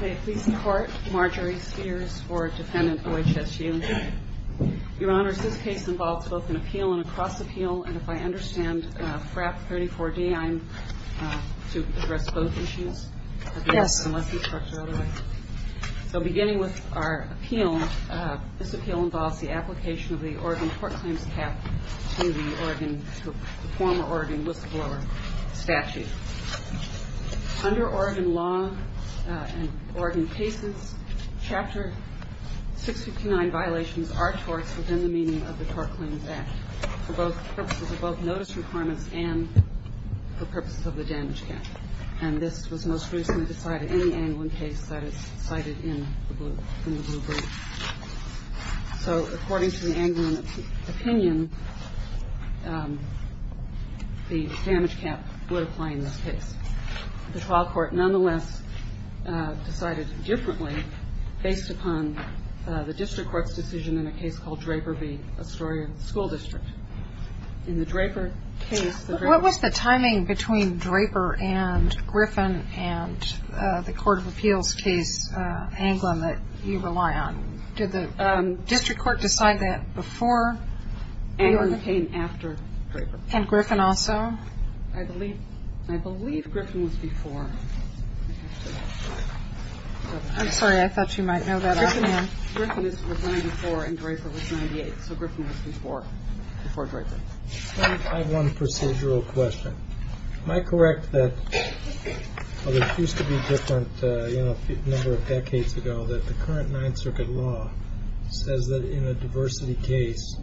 May it please the Court, Marjorie Sears, 4th Defendant, OHSU. Your Honor, this case involves both an appeal and a cross-appeal, and if I understand, FRAP 34-D, I'm to address both issues? Yes. So beginning with our appeal, this appeal involves the application of the Oregon Court Claims Cap to the Oregon, the former Oregon whistleblower statute. Under Oregon law and Oregon cases, Chapter 659 violations are torts within the meaning of the Tort Claims Act for both purposes of both notice requirements and for purposes of the damage cap. And this was most recently decided in the Anglin case that is cited in the blue brief. So according to the Anglin opinion, the damage cap would apply in this case. The trial court nonetheless decided differently based upon the district court's decision in a case called Draper v. Astoria School District. What was the timing between Draper and Griffin and the Court of Appeals case, Anglin, that you rely on? Did the district court decide that before Anglin? Anglin came after Draper. And Griffin also? I believe Griffin was before. I'm sorry, I thought you might know that. Griffin was before and Draper was 98. So Griffin was before Draper. I have one procedural question. Am I correct that, although it used to be different a number of decades ago, that the current Ninth Circuit law says that in a diversity case,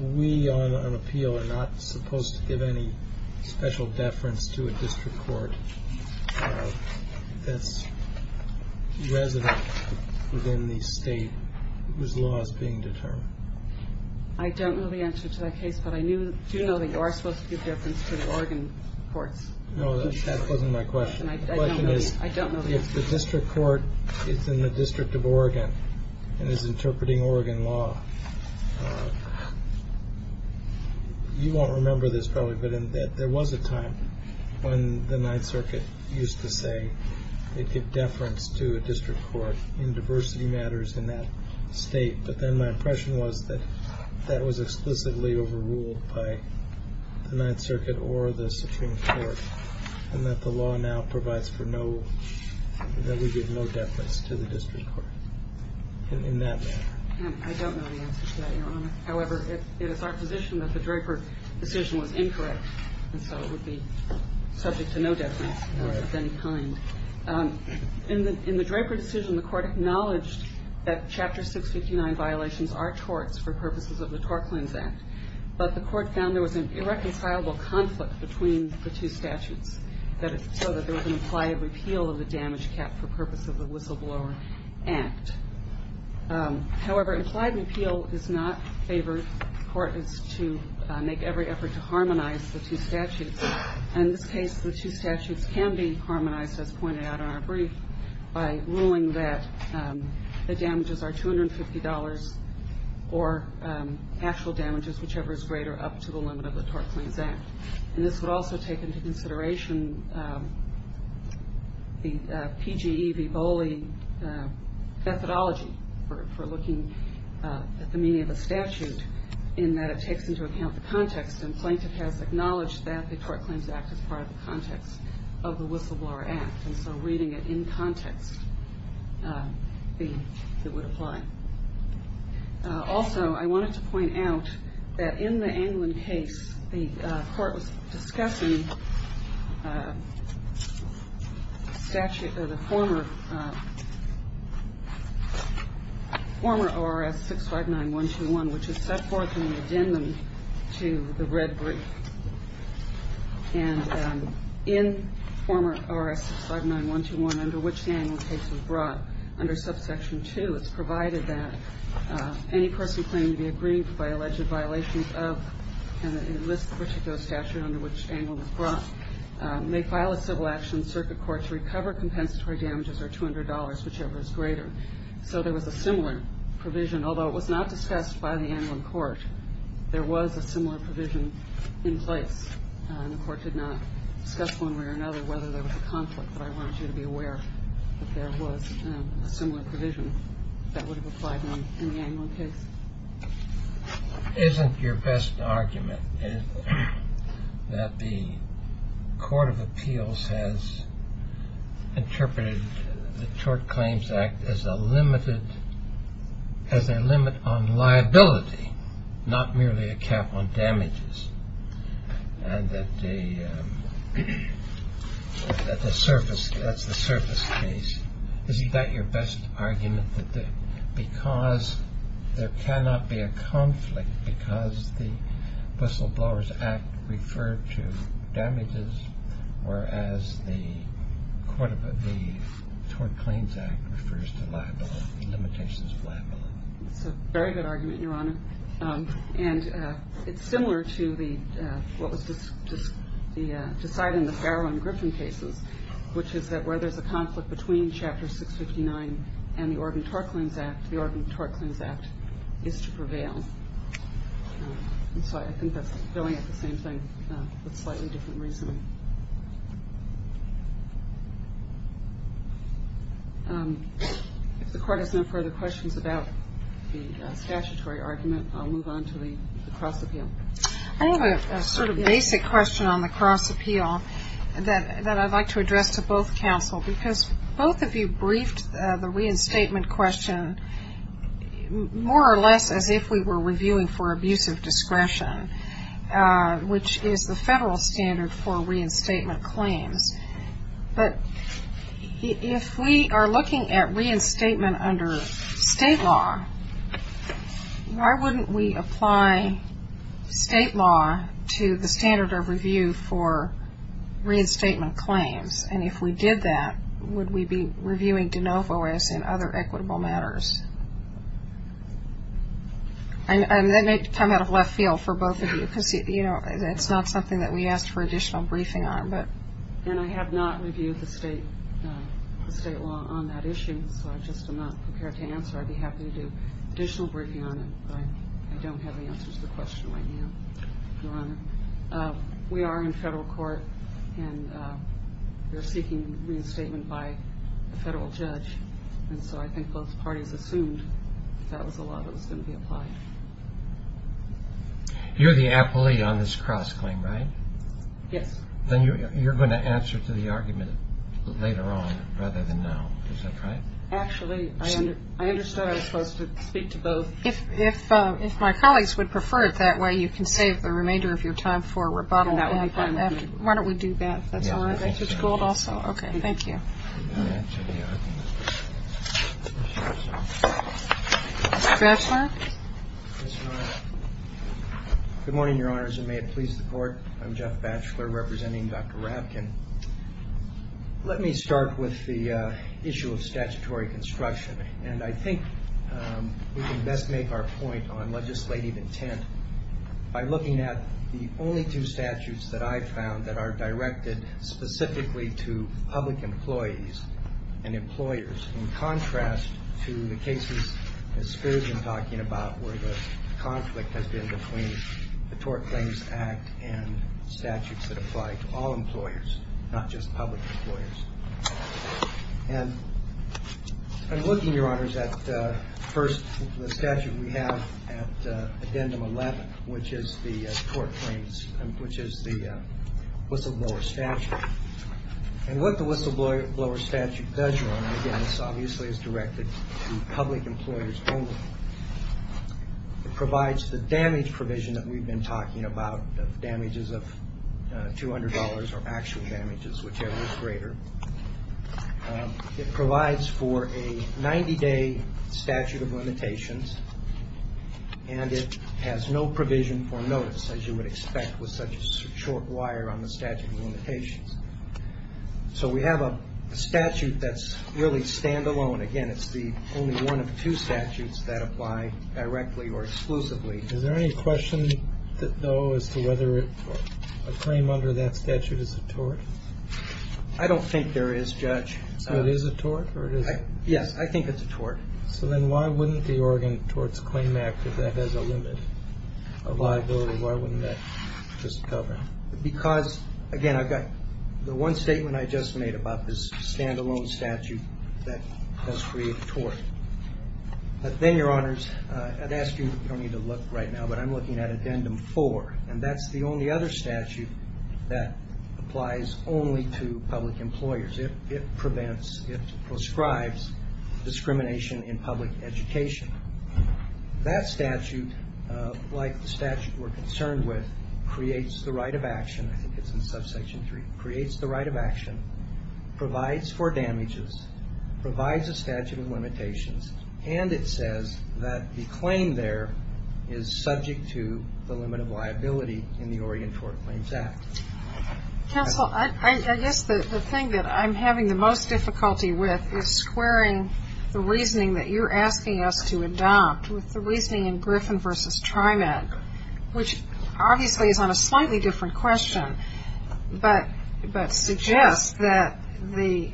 we on an appeal are not supposed to give any special deference to a district court that's resident within the state whose law is being determined? I don't know the answer to that case, but I do know that you are supposed to give deference to the Oregon courts. No, that wasn't my question. I don't know if the district court is in the District of Oregon and is interpreting Oregon law. You won't remember this, probably, but there was a time when the Ninth Circuit used to say it could deference to a district court in diversity matters in that state. But then my impression was that that was explicitly overruled by the Ninth Circuit or the Supreme Court, and that the law now provides for no, that we give no deference to the district court in that matter. I don't know the answer to that, Your Honor. However, it is our position that the Draper decision was incorrect, and so it would be subject to no deference of any kind. In the Draper decision, the court acknowledged that Chapter 659 violations are torts for purposes of the Torklins Act, but the court found there was an irreconcilable conflict between the two statutes, so that there was an implied repeal of the damage cap for purposes of the Whistleblower Act. However, implied repeal is not favored. The court is to make every effort to harmonize the two statutes. In this case, the two statutes can be harmonized, as pointed out in our brief, by ruling that the damages are $250 or actual damages, whichever is greater, up to the limit of the Torklins Act. And this would also take into consideration the PGE v. Boley methodology for looking at the meaning of a statute, in that it takes into account the context, and Plaintiff has acknowledged that the Torklins Act is part of the context of the Whistleblower Act, and so reading it in context, it would apply. Also, I wanted to point out that in the Anglin case, the court was discussing the statute of the former ORS 659-121, which is set forth in the addendum to the red brief. And in former ORS 659-121, under which the Anglin case was brought, under subsection 2, it's provided that any person claiming to be aggrieved by alleged violations of this particular statute, under which Anglin was brought, may file a civil action circuit court to recover compensatory damages or $200, whichever is greater. So there was a similar provision, although it was not discussed by the Anglin court. There was a similar provision in place, and the court did not discuss one way or another whether there was a conflict, but I want you to be aware that there was a similar provision that would have applied in the Anglin case. Isn't your best argument that the Court of Appeals has interpreted the Tork Claims Act as a limit on liability, not merely a cap on damages, and that the surface, that's the surface case? Is that your best argument, that because there cannot be a conflict, because the Whistleblowers Act referred to damages, whereas the Tork Claims Act refers to liability, limitations of liability? It's a very good argument, Your Honor. And it's similar to what was decided in the Farrow and Griffin cases, which is that where there's a conflict between Chapter 659 and the Oregon Tork Claims Act, the Oregon Tork Claims Act is to prevail. And so I think that's billing it the same thing with slightly different reasoning. If the Court has no further questions about the statutory argument, I'll move on to the cross appeal. I have a sort of basic question on the cross appeal that I'd like to address to both counsel, because both of you briefed the reinstatement question more or less as if we were reviewing for abusive discretion, which is the federal standard for reinstatement claims. But if we are looking at reinstatement under state law, why wouldn't we apply state law to the standard of review for reinstatement claims? And if we did that, would we be reviewing de novo as in other equitable matters? And that may come out of left field for both of you, because it's not something that we asked for additional briefing on. And I have not reviewed the state law on that issue, so I just am not prepared to answer. I'd be happy to do additional briefing on it, but I don't have the answers to the question right now, Your Honor. We are in federal court, and we're seeking reinstatement by a federal judge. And so I think both parties assumed that was the law that was going to be applied. You're the appellee on this cross claim, right? Yes. Then you're going to answer to the argument later on, rather than now. Is that right? Actually, I understood I was supposed to speak to both. If my colleagues would prefer it that way, you can save the remainder of your time for rebuttal. That would be fine with me. Why don't we do that? That's all right. It's gold also. Okay. Thank you. I'm going to answer the argument. Mr. Ravkin? Yes, Your Honor. Good morning, Your Honors, and may it please the Court. I'm Jeff Batchelor representing Dr. Ravkin. Let me start with the issue of statutory construction. And I think we can best make our point on legislative intent by looking at the only two statutes that I've found that are directed specifically to public employees and employers, in contrast to the cases that Scurgeon is talking about, where the conflict has been between the Tort Claims Act and statutes that apply to all employers, not just public employers. And I'm looking, Your Honors, at first the statute we have at Addendum 11, which is the Tort Claims, which is the whistleblower statute. And what the whistleblower statute does, Your Honor, again, this obviously is directed to public employers only. It provides the damage provision that we've been talking about, damages of $200 or actual damages, whichever is greater. It provides for a 90-day statute of limitations. And it has no provision for notice, as you would expect with such a short wire on the statute of limitations. So we have a statute that's really stand-alone. Again, it's the only one of two statutes that apply directly or exclusively. Is there any question, though, as to whether a claim under that statute is a tort? I don't think there is, Judge. It is a tort? Yes, I think it's a tort. So then why wouldn't the Oregon Tort Claims Act, if that has a limit of liability, why wouldn't that just cover it? Because, again, I've got the one statement I just made about this stand-alone statute that has created a tort. But then, Your Honors, I'd ask you, you don't need to look right now, but I'm looking at Addendum 4, and that's the only other statute that applies only to public employers. It prevents, it prescribes discrimination in public education. That statute, like the statute we're concerned with, creates the right of action. I think it's in Subsection 3. Creates the right of action, provides for damages, provides a statute of limitations, and it says that the claim there is subject to the limit of liability in the Oregon Tort Claims Act. Counsel, I guess the thing that I'm having the most difficulty with is squaring the reasoning that you're asking us to adopt with the reasoning in Griffin v. TriMet, which obviously is on a slightly different question, but suggests that the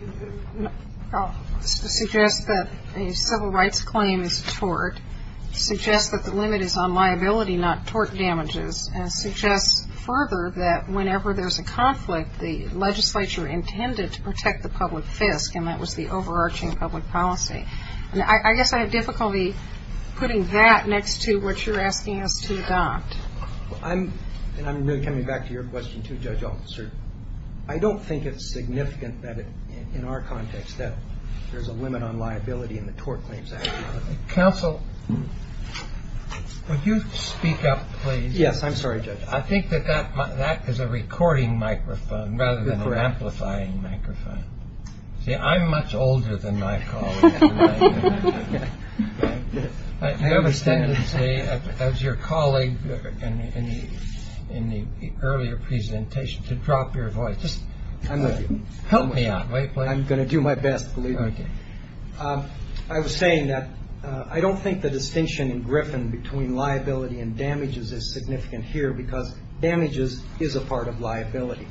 civil rights claim is tort, suggests that the limit is on liability, not tort damages, and suggests further that whenever there's a conflict, the legislature intended to protect the public fisc, and that was the overarching public policy. I guess I have difficulty putting that next to what you're asking us to adopt. And I'm coming back to your question, too, Judge Altshuler. I don't think it's significant that in our context that there's a limit on liability in the Tort Claims Act. Counsel, would you speak up, please? Yes, I'm sorry, Judge. I think that that is a recording microphone rather than an amplifying microphone. See, I'm much older than my colleague. I understand, as your colleague in the earlier presentation, to drop your voice. Just help me out. I'm going to do my best, believe me. I was saying that I don't think the distinction in Griffin between liability and damages is significant here, because damages is a part of liability.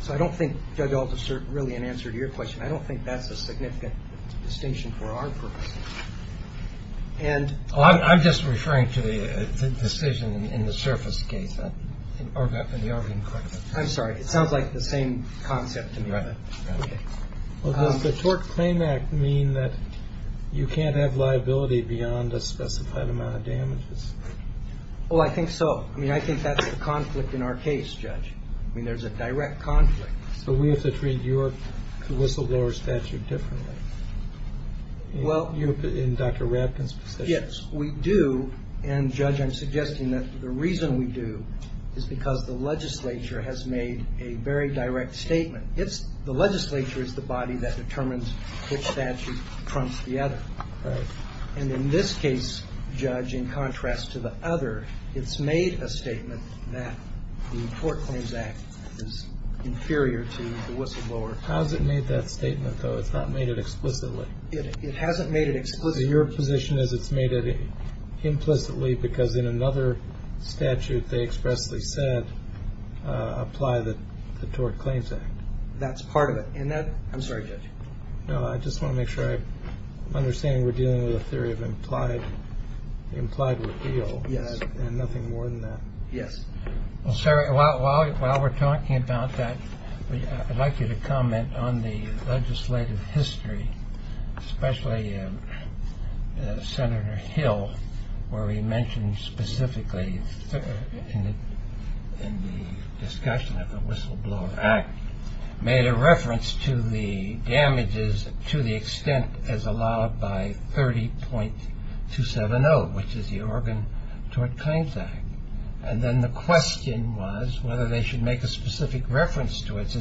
So I don't think, Judge Altshuler, really in answer to your question, I don't think that's a significant distinction for our purposes. I'm just referring to the decision in the surface case. I'm sorry. It sounds like the same concept to me. Does the Tort Claim Act mean that you can't have liability beyond a specified amount of damages? Well, I think so. I mean, I think that's the conflict in our case, Judge. I mean, there's a direct conflict. So we have to treat your whistleblower statute differently in Dr. Rapkin's position. Yes, we do. And, Judge, I'm suggesting that the reason we do is because the legislature has made a very direct statement. The legislature is the body that determines which statute trumps the other. Right. And in this case, Judge, in contrast to the other, it's made a statement that the Tort Claims Act is inferior to the whistleblower. How has it made that statement, though? It's not made it explicitly. It hasn't made it explicitly. So your position is it's made it implicitly because in another statute they expressly said apply the Tort Claims Act. That's part of it. And that – I'm sorry, Judge. No, I just want to make sure I'm understanding we're dealing with a theory of implied – implied repeal. Yes. And nothing more than that. Yes. Well, sir, while we're talking about that, I'd like you to comment on the legislative history, especially Senator Hill, where he mentioned specifically in the discussion of the Whistleblower Act, made a reference to the damages to the extent as allowed by 30.270, which is the Organ Tort Claims Act. And then the question was whether they should make a specific reference to it.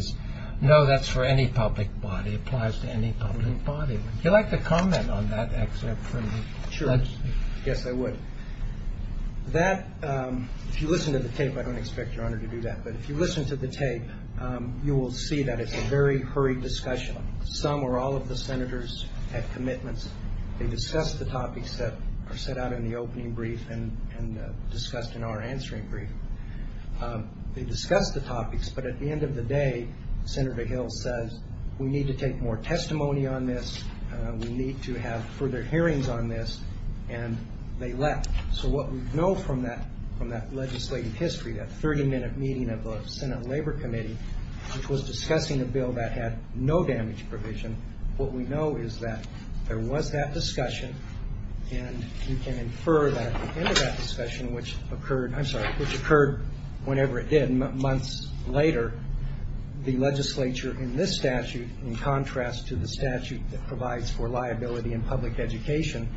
No, that's for any public body. It applies to any public body. Would you like to comment on that excerpt from the – Sure. Yes, I would. That – if you listen to the tape, I don't expect Your Honor to do that. But if you listen to the tape, you will see that it's a very hurried discussion. Some or all of the senators had commitments. They discussed the topics that are set out in the opening brief and discussed in our answering brief. They discussed the topics, but at the end of the day, Senator Hill says, we need to take more testimony on this, we need to have further hearings on this, and they left. So what we know from that legislative history, that 30-minute meeting of the Senate Labor Committee, which was discussing a bill that had no damage provision, what we know is that there was that discussion, and you can infer that at the end of that discussion, which occurred – I'm sorry – which occurred whenever it did months later, the legislature in this statute, in contrast to the statute that provides for liability in public education,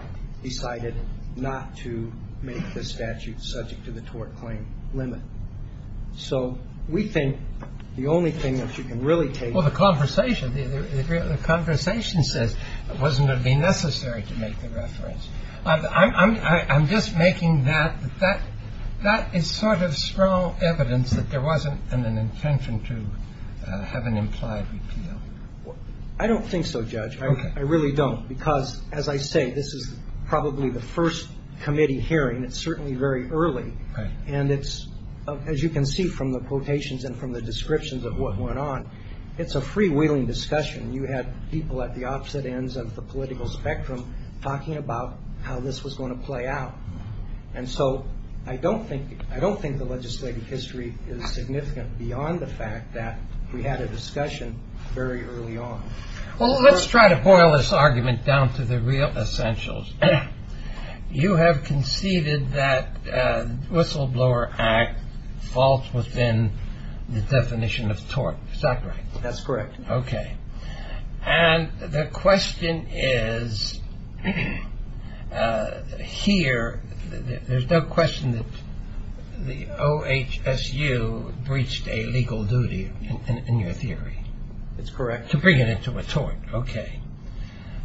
decided not to make this statute subject to the tort claim limit. So we think the only thing that you can really take – Well, the conversation – the conversation says it wasn't going to be necessary to make the reference. I'm just making that – that is sort of strong evidence that there wasn't an intention to have an implied repeal. I don't think so, Judge. Okay. I really don't because, as I say, this is probably the first committee hearing. It's certainly very early. Right. And it's – as you can see from the quotations and from the descriptions of what went on, it's a freewheeling discussion. You had people at the opposite ends of the political spectrum talking about how this was going to play out. And so I don't think – I don't think the legislative history is significant beyond the fact that we had a discussion very early on. Well, let's try to boil this argument down to the real essentials. You have conceded that the Whistleblower Act falls within the definition of tort. Is that right? That's correct. Okay. And the question is, here, there's no question that the OHSU breached a legal duty in your theory. That's correct. To bring it into a tort. Okay.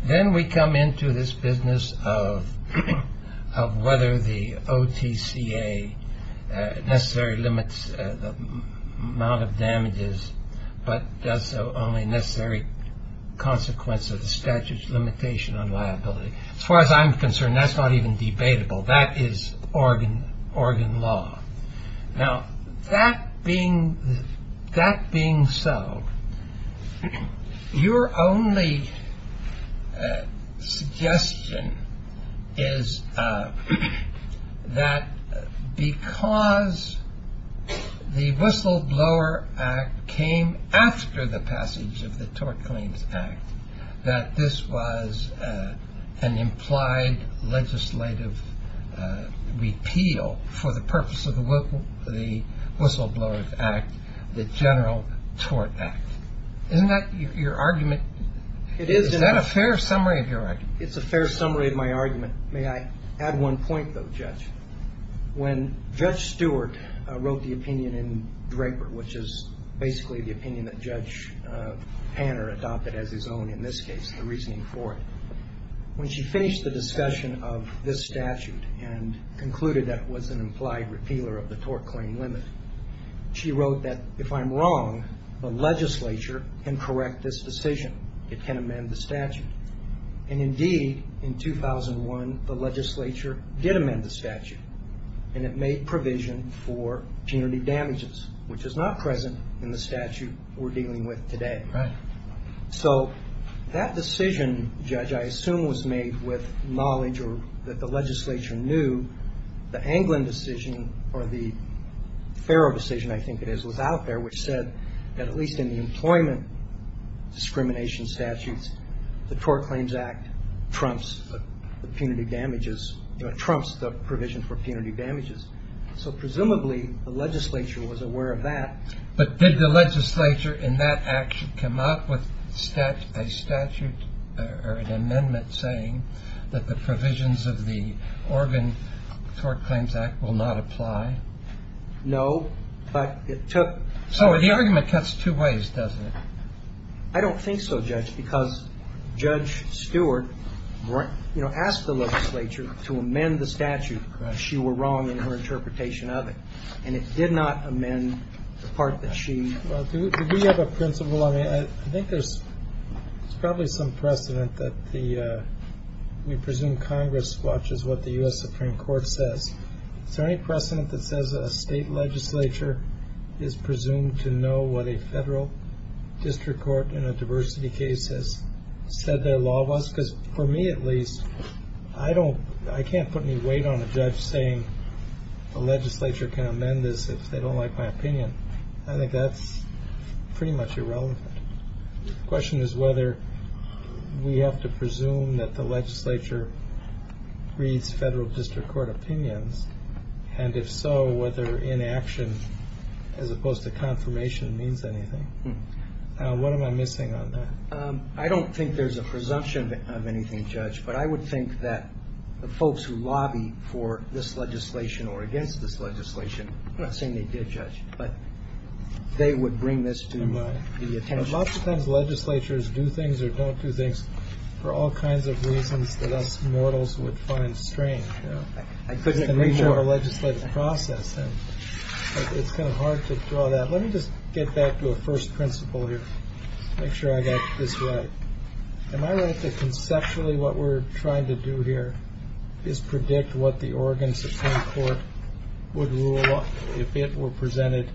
Then we come into this business of whether the OTCA necessarily limits the amount of damages but does so only in necessary consequence of the statute's limitation on liability. As far as I'm concerned, that's not even debatable. That is organ law. Now, that being so, your only suggestion is that because the Whistleblower Act came after the passage of the Tort Claims Act, that this was an implied legislative repeal for the purpose of the Whistleblower Act, the General Tort Act. Isn't that your argument? It is. Is that a fair summary of your argument? It's a fair summary of my argument. May I add one point, though, Judge? When Judge Stewart wrote the opinion in Draper, which is basically the opinion that Judge Hanner adopted as his own in this case, the reasoning for it, when she finished the discussion of this statute and concluded that it was an implied repealer of the tort claim limit, she wrote that, if I'm wrong, the legislature can correct this decision. It can amend the statute. And indeed, in 2001, the legislature did amend the statute, and it made provision for punitive damages, which is not present in the statute we're dealing with today. Right. So that decision, Judge, I assume was made with knowledge or that the legislature knew the Anglin decision, or the Farrow decision, I think it is, was out there, which said that at least in the employment discrimination statutes, the Tort Claims Act trumps the punitive damages or trumps the provision for punitive damages. So presumably the legislature was aware of that. But did the legislature in that act come up with a statute or an amendment saying that the provisions of the Oregon Tort Claims Act will not apply? No, but it took. So the argument cuts two ways, doesn't it? I don't think so, Judge, because Judge Stewart, you know, asked the legislature to amend the statute. She were wrong in her interpretation of it, and it did not amend the part that she. Well, do we have a principle? I mean, I think there's probably some precedent that the we presume Congress watches what the U.S. Supreme Court says. Is there any precedent that says a state legislature is presumed to know what a federal district court in a diversity case has said their law was? Because for me, at least, I don't I can't put any weight on a judge saying the legislature can amend this if they don't like my opinion. I think that's pretty much irrelevant. Question is whether we have to presume that the legislature reads federal district court opinions. And if so, whether inaction as opposed to confirmation means anything. What am I missing on that? I don't think there's a presumption of anything, Judge. But I would think that the folks who lobby for this legislation or against this legislation, I'm not saying they did, Judge, but they would bring this to the attention. Lots of times legislatures do things or don't do things for all kinds of reasons that us mortals would find strange. I couldn't agree more. It's the nature of the legislative process, and it's kind of hard to draw that. Let me just get back to a first principle here. Make sure I got this right. Am I right that conceptually what we're trying to do here is predict what the Oregon Supreme Court would rule if it were presented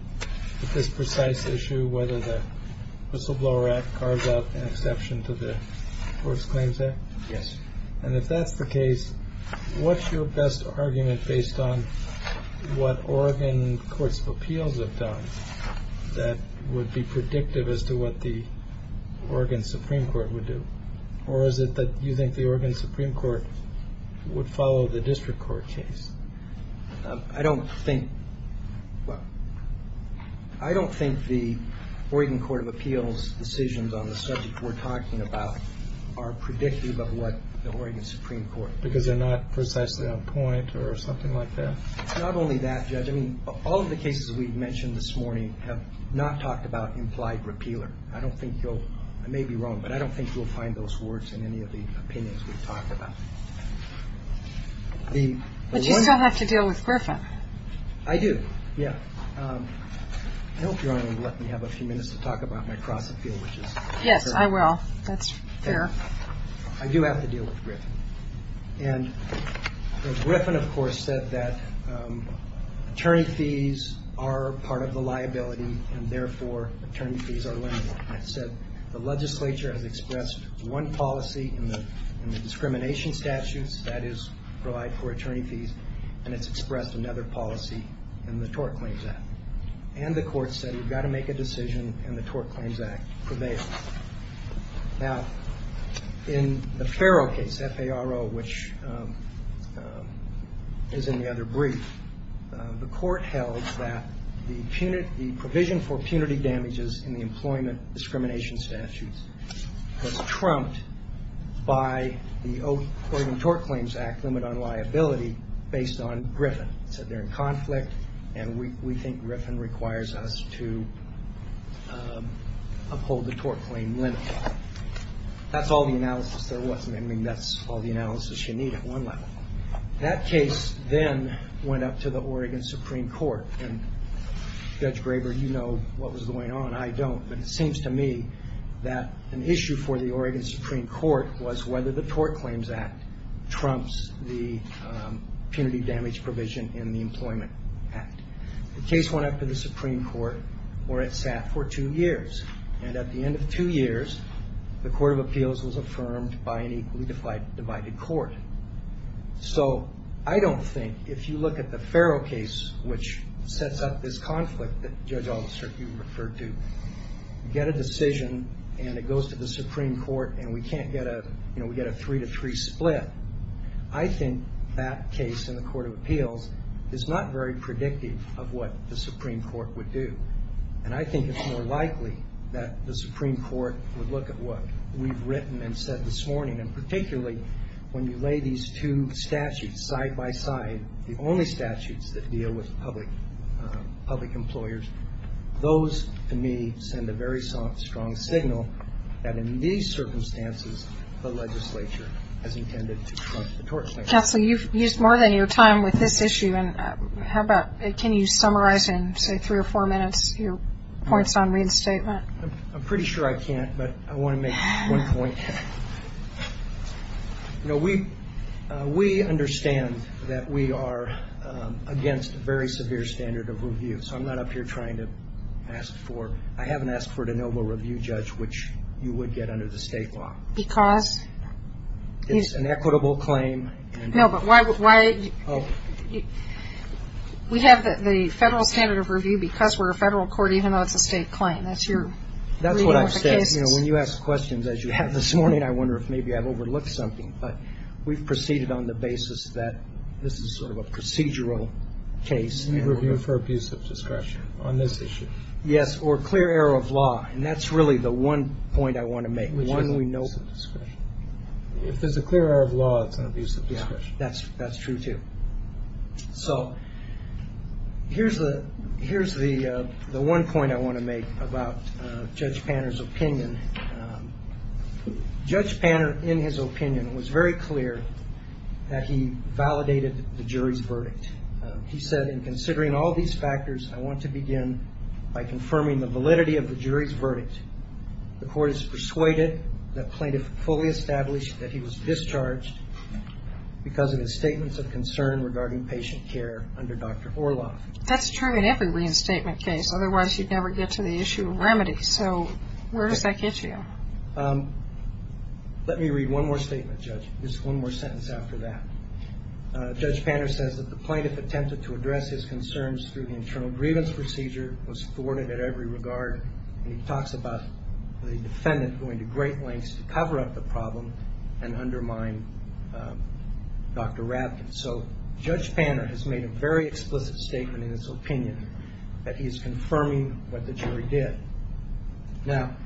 with this precise issue, whether the Whistleblower Act carves out an exception to the Forced Claims Act? Yes. And if that's the case, what's your best argument based on what Oregon courts of appeals have done that would be predictive as to what the Oregon Supreme Court would do? Or is it that you think the Oregon Supreme Court would follow the district court case? I don't think the Oregon Court of Appeals decisions on the subject we're talking about are predictive of what the Oregon Supreme Court would do. Because they're not precisely on point or something like that? Not only that, Judge. I mean, all of the cases we've mentioned this morning have not talked about implied repealer. I don't think you'll – I may be wrong, but I don't think you'll find those words in any of the opinions we've talked about. But you still have to deal with Griffin. I do, yeah. I hope Your Honor will let me have a few minutes to talk about my cross appeal, which is – Yes, I will. That's fair. I do have to deal with Griffin. And Griffin, of course, said that attorney fees are part of the liability, and therefore attorney fees are limited. It said the legislature has expressed one policy in the discrimination statutes that is relied for attorney fees, and it's expressed another policy in the Tort Claims Act. And the court said you've got to make a decision, and the Tort Claims Act prevails. Now, in the Farrow case, F-A-R-O, which is in the other brief, the court held that the provision for punity damages in the employment discrimination statutes was trumped by the Oregon Tort Claims Act limit on liability based on Griffin. It said they're in conflict, and we think Griffin requires us to uphold the tort claim limit. That's all the analysis there was. I mean, that's all the analysis you need at one level. That case then went up to the Oregon Supreme Court. And Judge Graber, you know what was going on. I don't. But it seems to me that an issue for the Oregon Supreme Court was whether the Tort Claims Act trumps the punity damage provision in the Employment Act. The case went up to the Supreme Court, where it sat for two years. And at the end of two years, the Court of Appeals was affirmed by an equally divided court. So I don't think if you look at the Farrow case, which sets up this conflict that Judge Aldister, you referred to, you get a decision, and it goes to the Supreme Court, and we get a three-to-three split. I think that case in the Court of Appeals is not very predictive of what the Supreme Court would do. And I think it's more likely that the Supreme Court would look at what we've written and said this morning, and particularly when you lay these two statutes side by side, the only statutes that deal with public employers. Those, to me, send a very strong signal that in these circumstances, the legislature has intended to crunch the Tort Claims Act. Counsel, you've used more than your time with this issue. And how about can you summarize in, say, three or four minutes your points on Reed's statement? I'm pretty sure I can't, but I want to make one point. You know, we understand that we are against a very severe standard of review. So I'm not up here trying to ask for ñ I haven't asked for a de novo review, Judge, which you would get under the state law. Because? It's an equitable claim. No, but why ñ we have the federal standard of review because we're a federal court, even though it's a state claim. That's your review of the cases. That's what I've said. You know, when you ask questions, as you have this morning, I wonder if maybe I've overlooked something. But we've proceeded on the basis that this is sort of a procedural case. Review for abusive discretion on this issue. Yes, or clear error of law. And that's really the one point I want to make, one we know ñ If there's a clear error of law, it's an abusive discretion. Yeah, that's true, too. So here's the one point I want to make about Judge Panner's opinion. Judge Panner, in his opinion, was very clear that he validated the jury's verdict. He said, in considering all these factors, I want to begin by confirming the validity of the jury's verdict. The court is persuaded that plaintiff fully established that he was discharged because of his statements of concern regarding patient care under Dr. Orloff. That's true in every reinstatement case. Otherwise, you'd never get to the issue of remedy. So where does that get you? Let me read one more statement, Judge. Just one more sentence after that. Judge Panner says that the plaintiff attempted to address his concerns through the internal grievance procedure, was thwarted at every regard, and he talks about the defendant going to great lengths to cover up the problem and undermine Dr. Rabkin. So Judge Panner has made a very explicit statement in his opinion that he is confirming what the jury did. Now,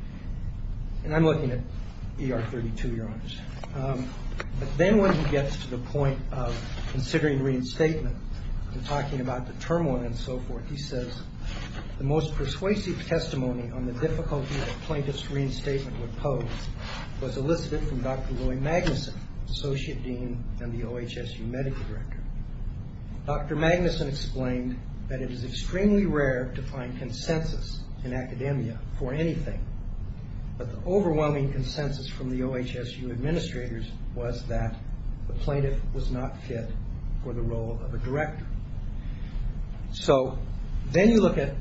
and I'm looking at ER 32, Your Honors. But then when he gets to the point of considering reinstatement and talking about the turmoil and so forth, he says, the most persuasive testimony on the difficulty that a plaintiff's reinstatement would pose was elicited from Dr. Lloyd Magnuson, Associate Dean and the OHSU Medical Director. Dr. Magnuson explained that it is extremely rare to find consensus in academia for anything, but the overwhelming consensus from the OHSU administrators was that the plaintiff was not fit for the role of a director. So then you look at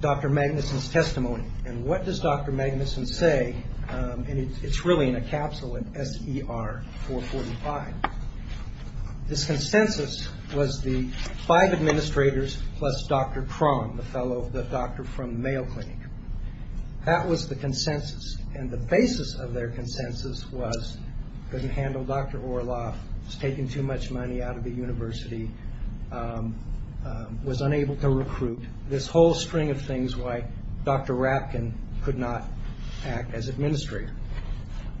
Dr. Magnuson's testimony, and what does Dr. Magnuson say? And it's really in a capsule in SER 445. This consensus was the five administrators plus Dr. Cron, the fellow, the doctor from the Mayo Clinic. That was the consensus. And the basis of their consensus was couldn't handle Dr. Orloff, was taking too much money out of the university, was unable to recruit, this whole string of things why Dr. Rapkin could not act as administrator.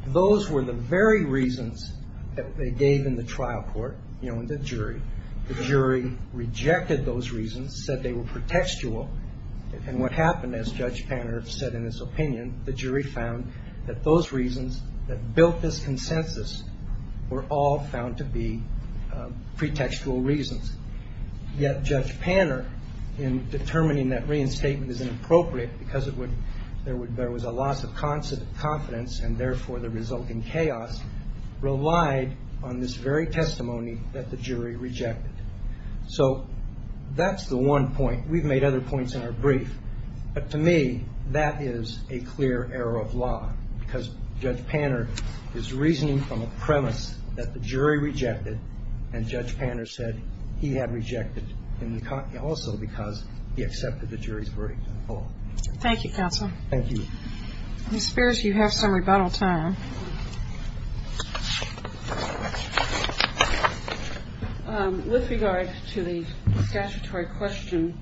Those were the very reasons that they gave in the trial court, you know, in the jury. The jury rejected those reasons, said they were pretextual. And what happened, as Judge Panner said in his opinion, the jury found that those reasons that built this consensus were all found to be pretextual reasons. Yet Judge Panner, in determining that reinstatement is inappropriate because there was a loss of confidence and therefore the result in chaos, relied on this very testimony that the jury rejected. So that's the one point. We've made other points in our brief, but to me that is a clear error of law because Judge Panner is reasoning from a premise that the jury rejected, and Judge Panner said he had rejected also because he accepted the jury's verdict. Thank you, counsel. Thank you. Ms. Spears, you have some rebuttal time. With regard to the statutory question,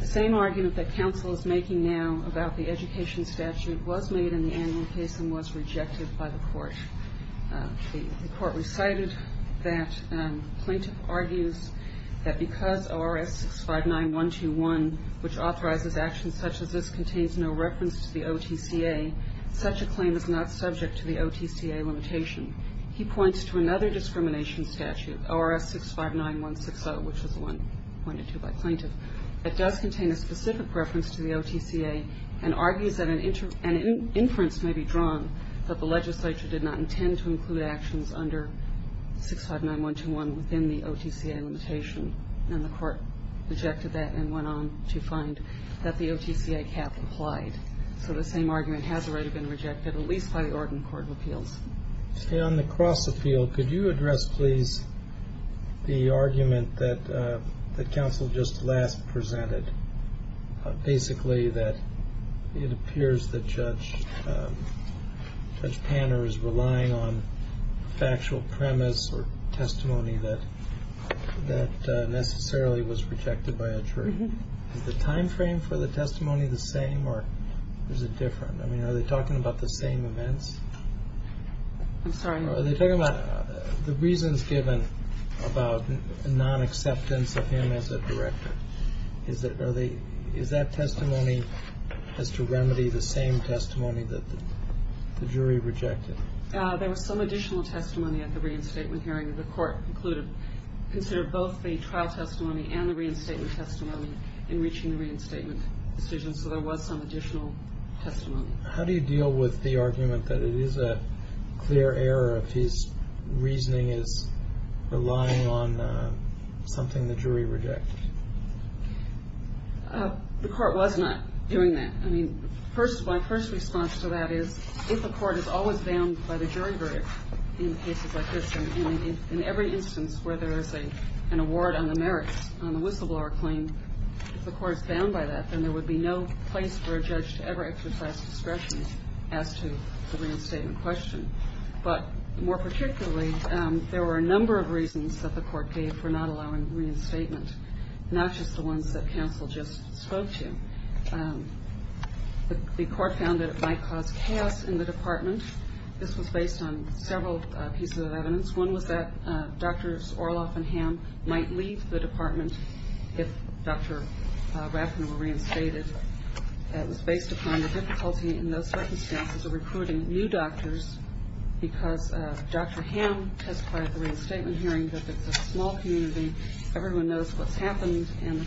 the same argument that counsel is making now about the education statute was made in the annual case and was rejected by the court. The court recited that plaintiff argues that because ORS 659-121, which authorizes actions such as this contains no reference to the OTCA, such a claim is not subject to the OTCA limitation. He points to another discrimination statute, ORS 659-160, which is the one pointed to by plaintiff, that does contain a specific reference to the OTCA and argues that an inference may be drawn that the legislature did not intend to include actions under 659-121 within the OTCA limitation. And the court rejected that and went on to find that the OTCA cap applied. So the same argument has already been rejected, at least by the Oregon Court of Appeals. On the cross appeal, could you address, please, the argument that counsel just last presented, basically that it appears that Judge Panner is relying on factual premise or testimony that necessarily was rejected by a jury. Is the time frame for the testimony the same or is it different? I mean, are they talking about the same events? I'm sorry? Are they talking about the reasons given about nonacceptance of him as a director? Is that testimony has to remedy the same testimony that the jury rejected? There was some additional testimony at the reinstatement hearing. The court considered both the trial testimony and the reinstatement testimony in reaching the reinstatement decision, so there was some additional testimony. How do you deal with the argument that it is a clear error if his reasoning is relying on something the jury rejected? The court was not doing that. I mean, my first response to that is if a court is always bound by the jury verdict in cases like this and in every instance where there is an award on the merits on the whistleblower claim, if the court is bound by that, then there would be no place for a judge to ever exercise discretion as to the reinstatement question. But more particularly, there were a number of reasons that the court gave for not allowing reinstatement, not just the ones that counsel just spoke to. The court found that it might cause chaos in the department. This was based on several pieces of evidence. One was that Drs. Orloff and Hamm might leave the department if Dr. Rafferty were reinstated. It was based upon the difficulty in those circumstances of recruiting new doctors because Dr. Hamm testified at the reinstatement hearing that it's a small community, everyone knows what's happened, and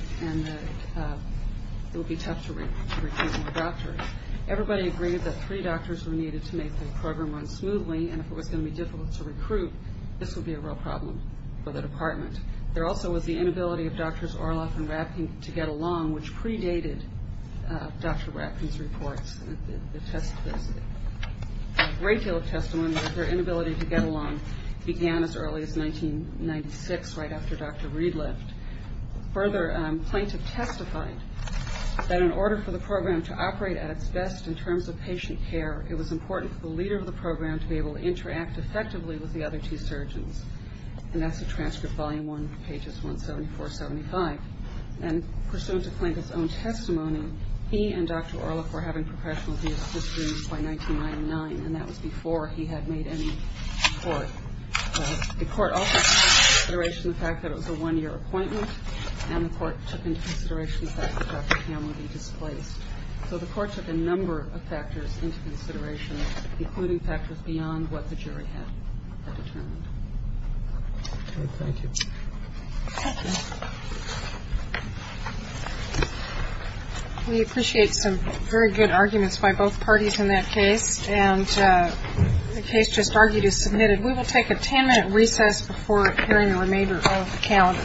it would be tough to recruit more doctors. Everybody agreed that three doctors were needed to make the program run smoothly, and if it was going to be difficult to recruit, this would be a real problem for the department. There also was the inability of Drs. Orloff and Rafferty to get along, which predated Dr. Rafferty's reports. There's a great deal of testimony that their inability to get along began as early as 1996, right after Dr. Reed left. Further, Plaintiff testified that in order for the program to operate at its best in terms of patient care, it was important for the leader of the program to be able to interact effectively with the other two surgeons. And that's the transcript, volume 1, pages 174, 75. And pursuant to Plaintiff's own testimony, he and Dr. Orloff were having professional visits to his room by 1999, and that was before he had made any report. The court also took into consideration the fact that it was a one-year appointment, and the court took into consideration the fact that Dr. Ham would be displaced. So the court took a number of factors into consideration, including factors beyond what the jury had determined. Thank you. We appreciate some very good arguments by both parties in that case, and the case just argued is submitted. We will take a ten-minute recess before hearing the remainder of the calendar.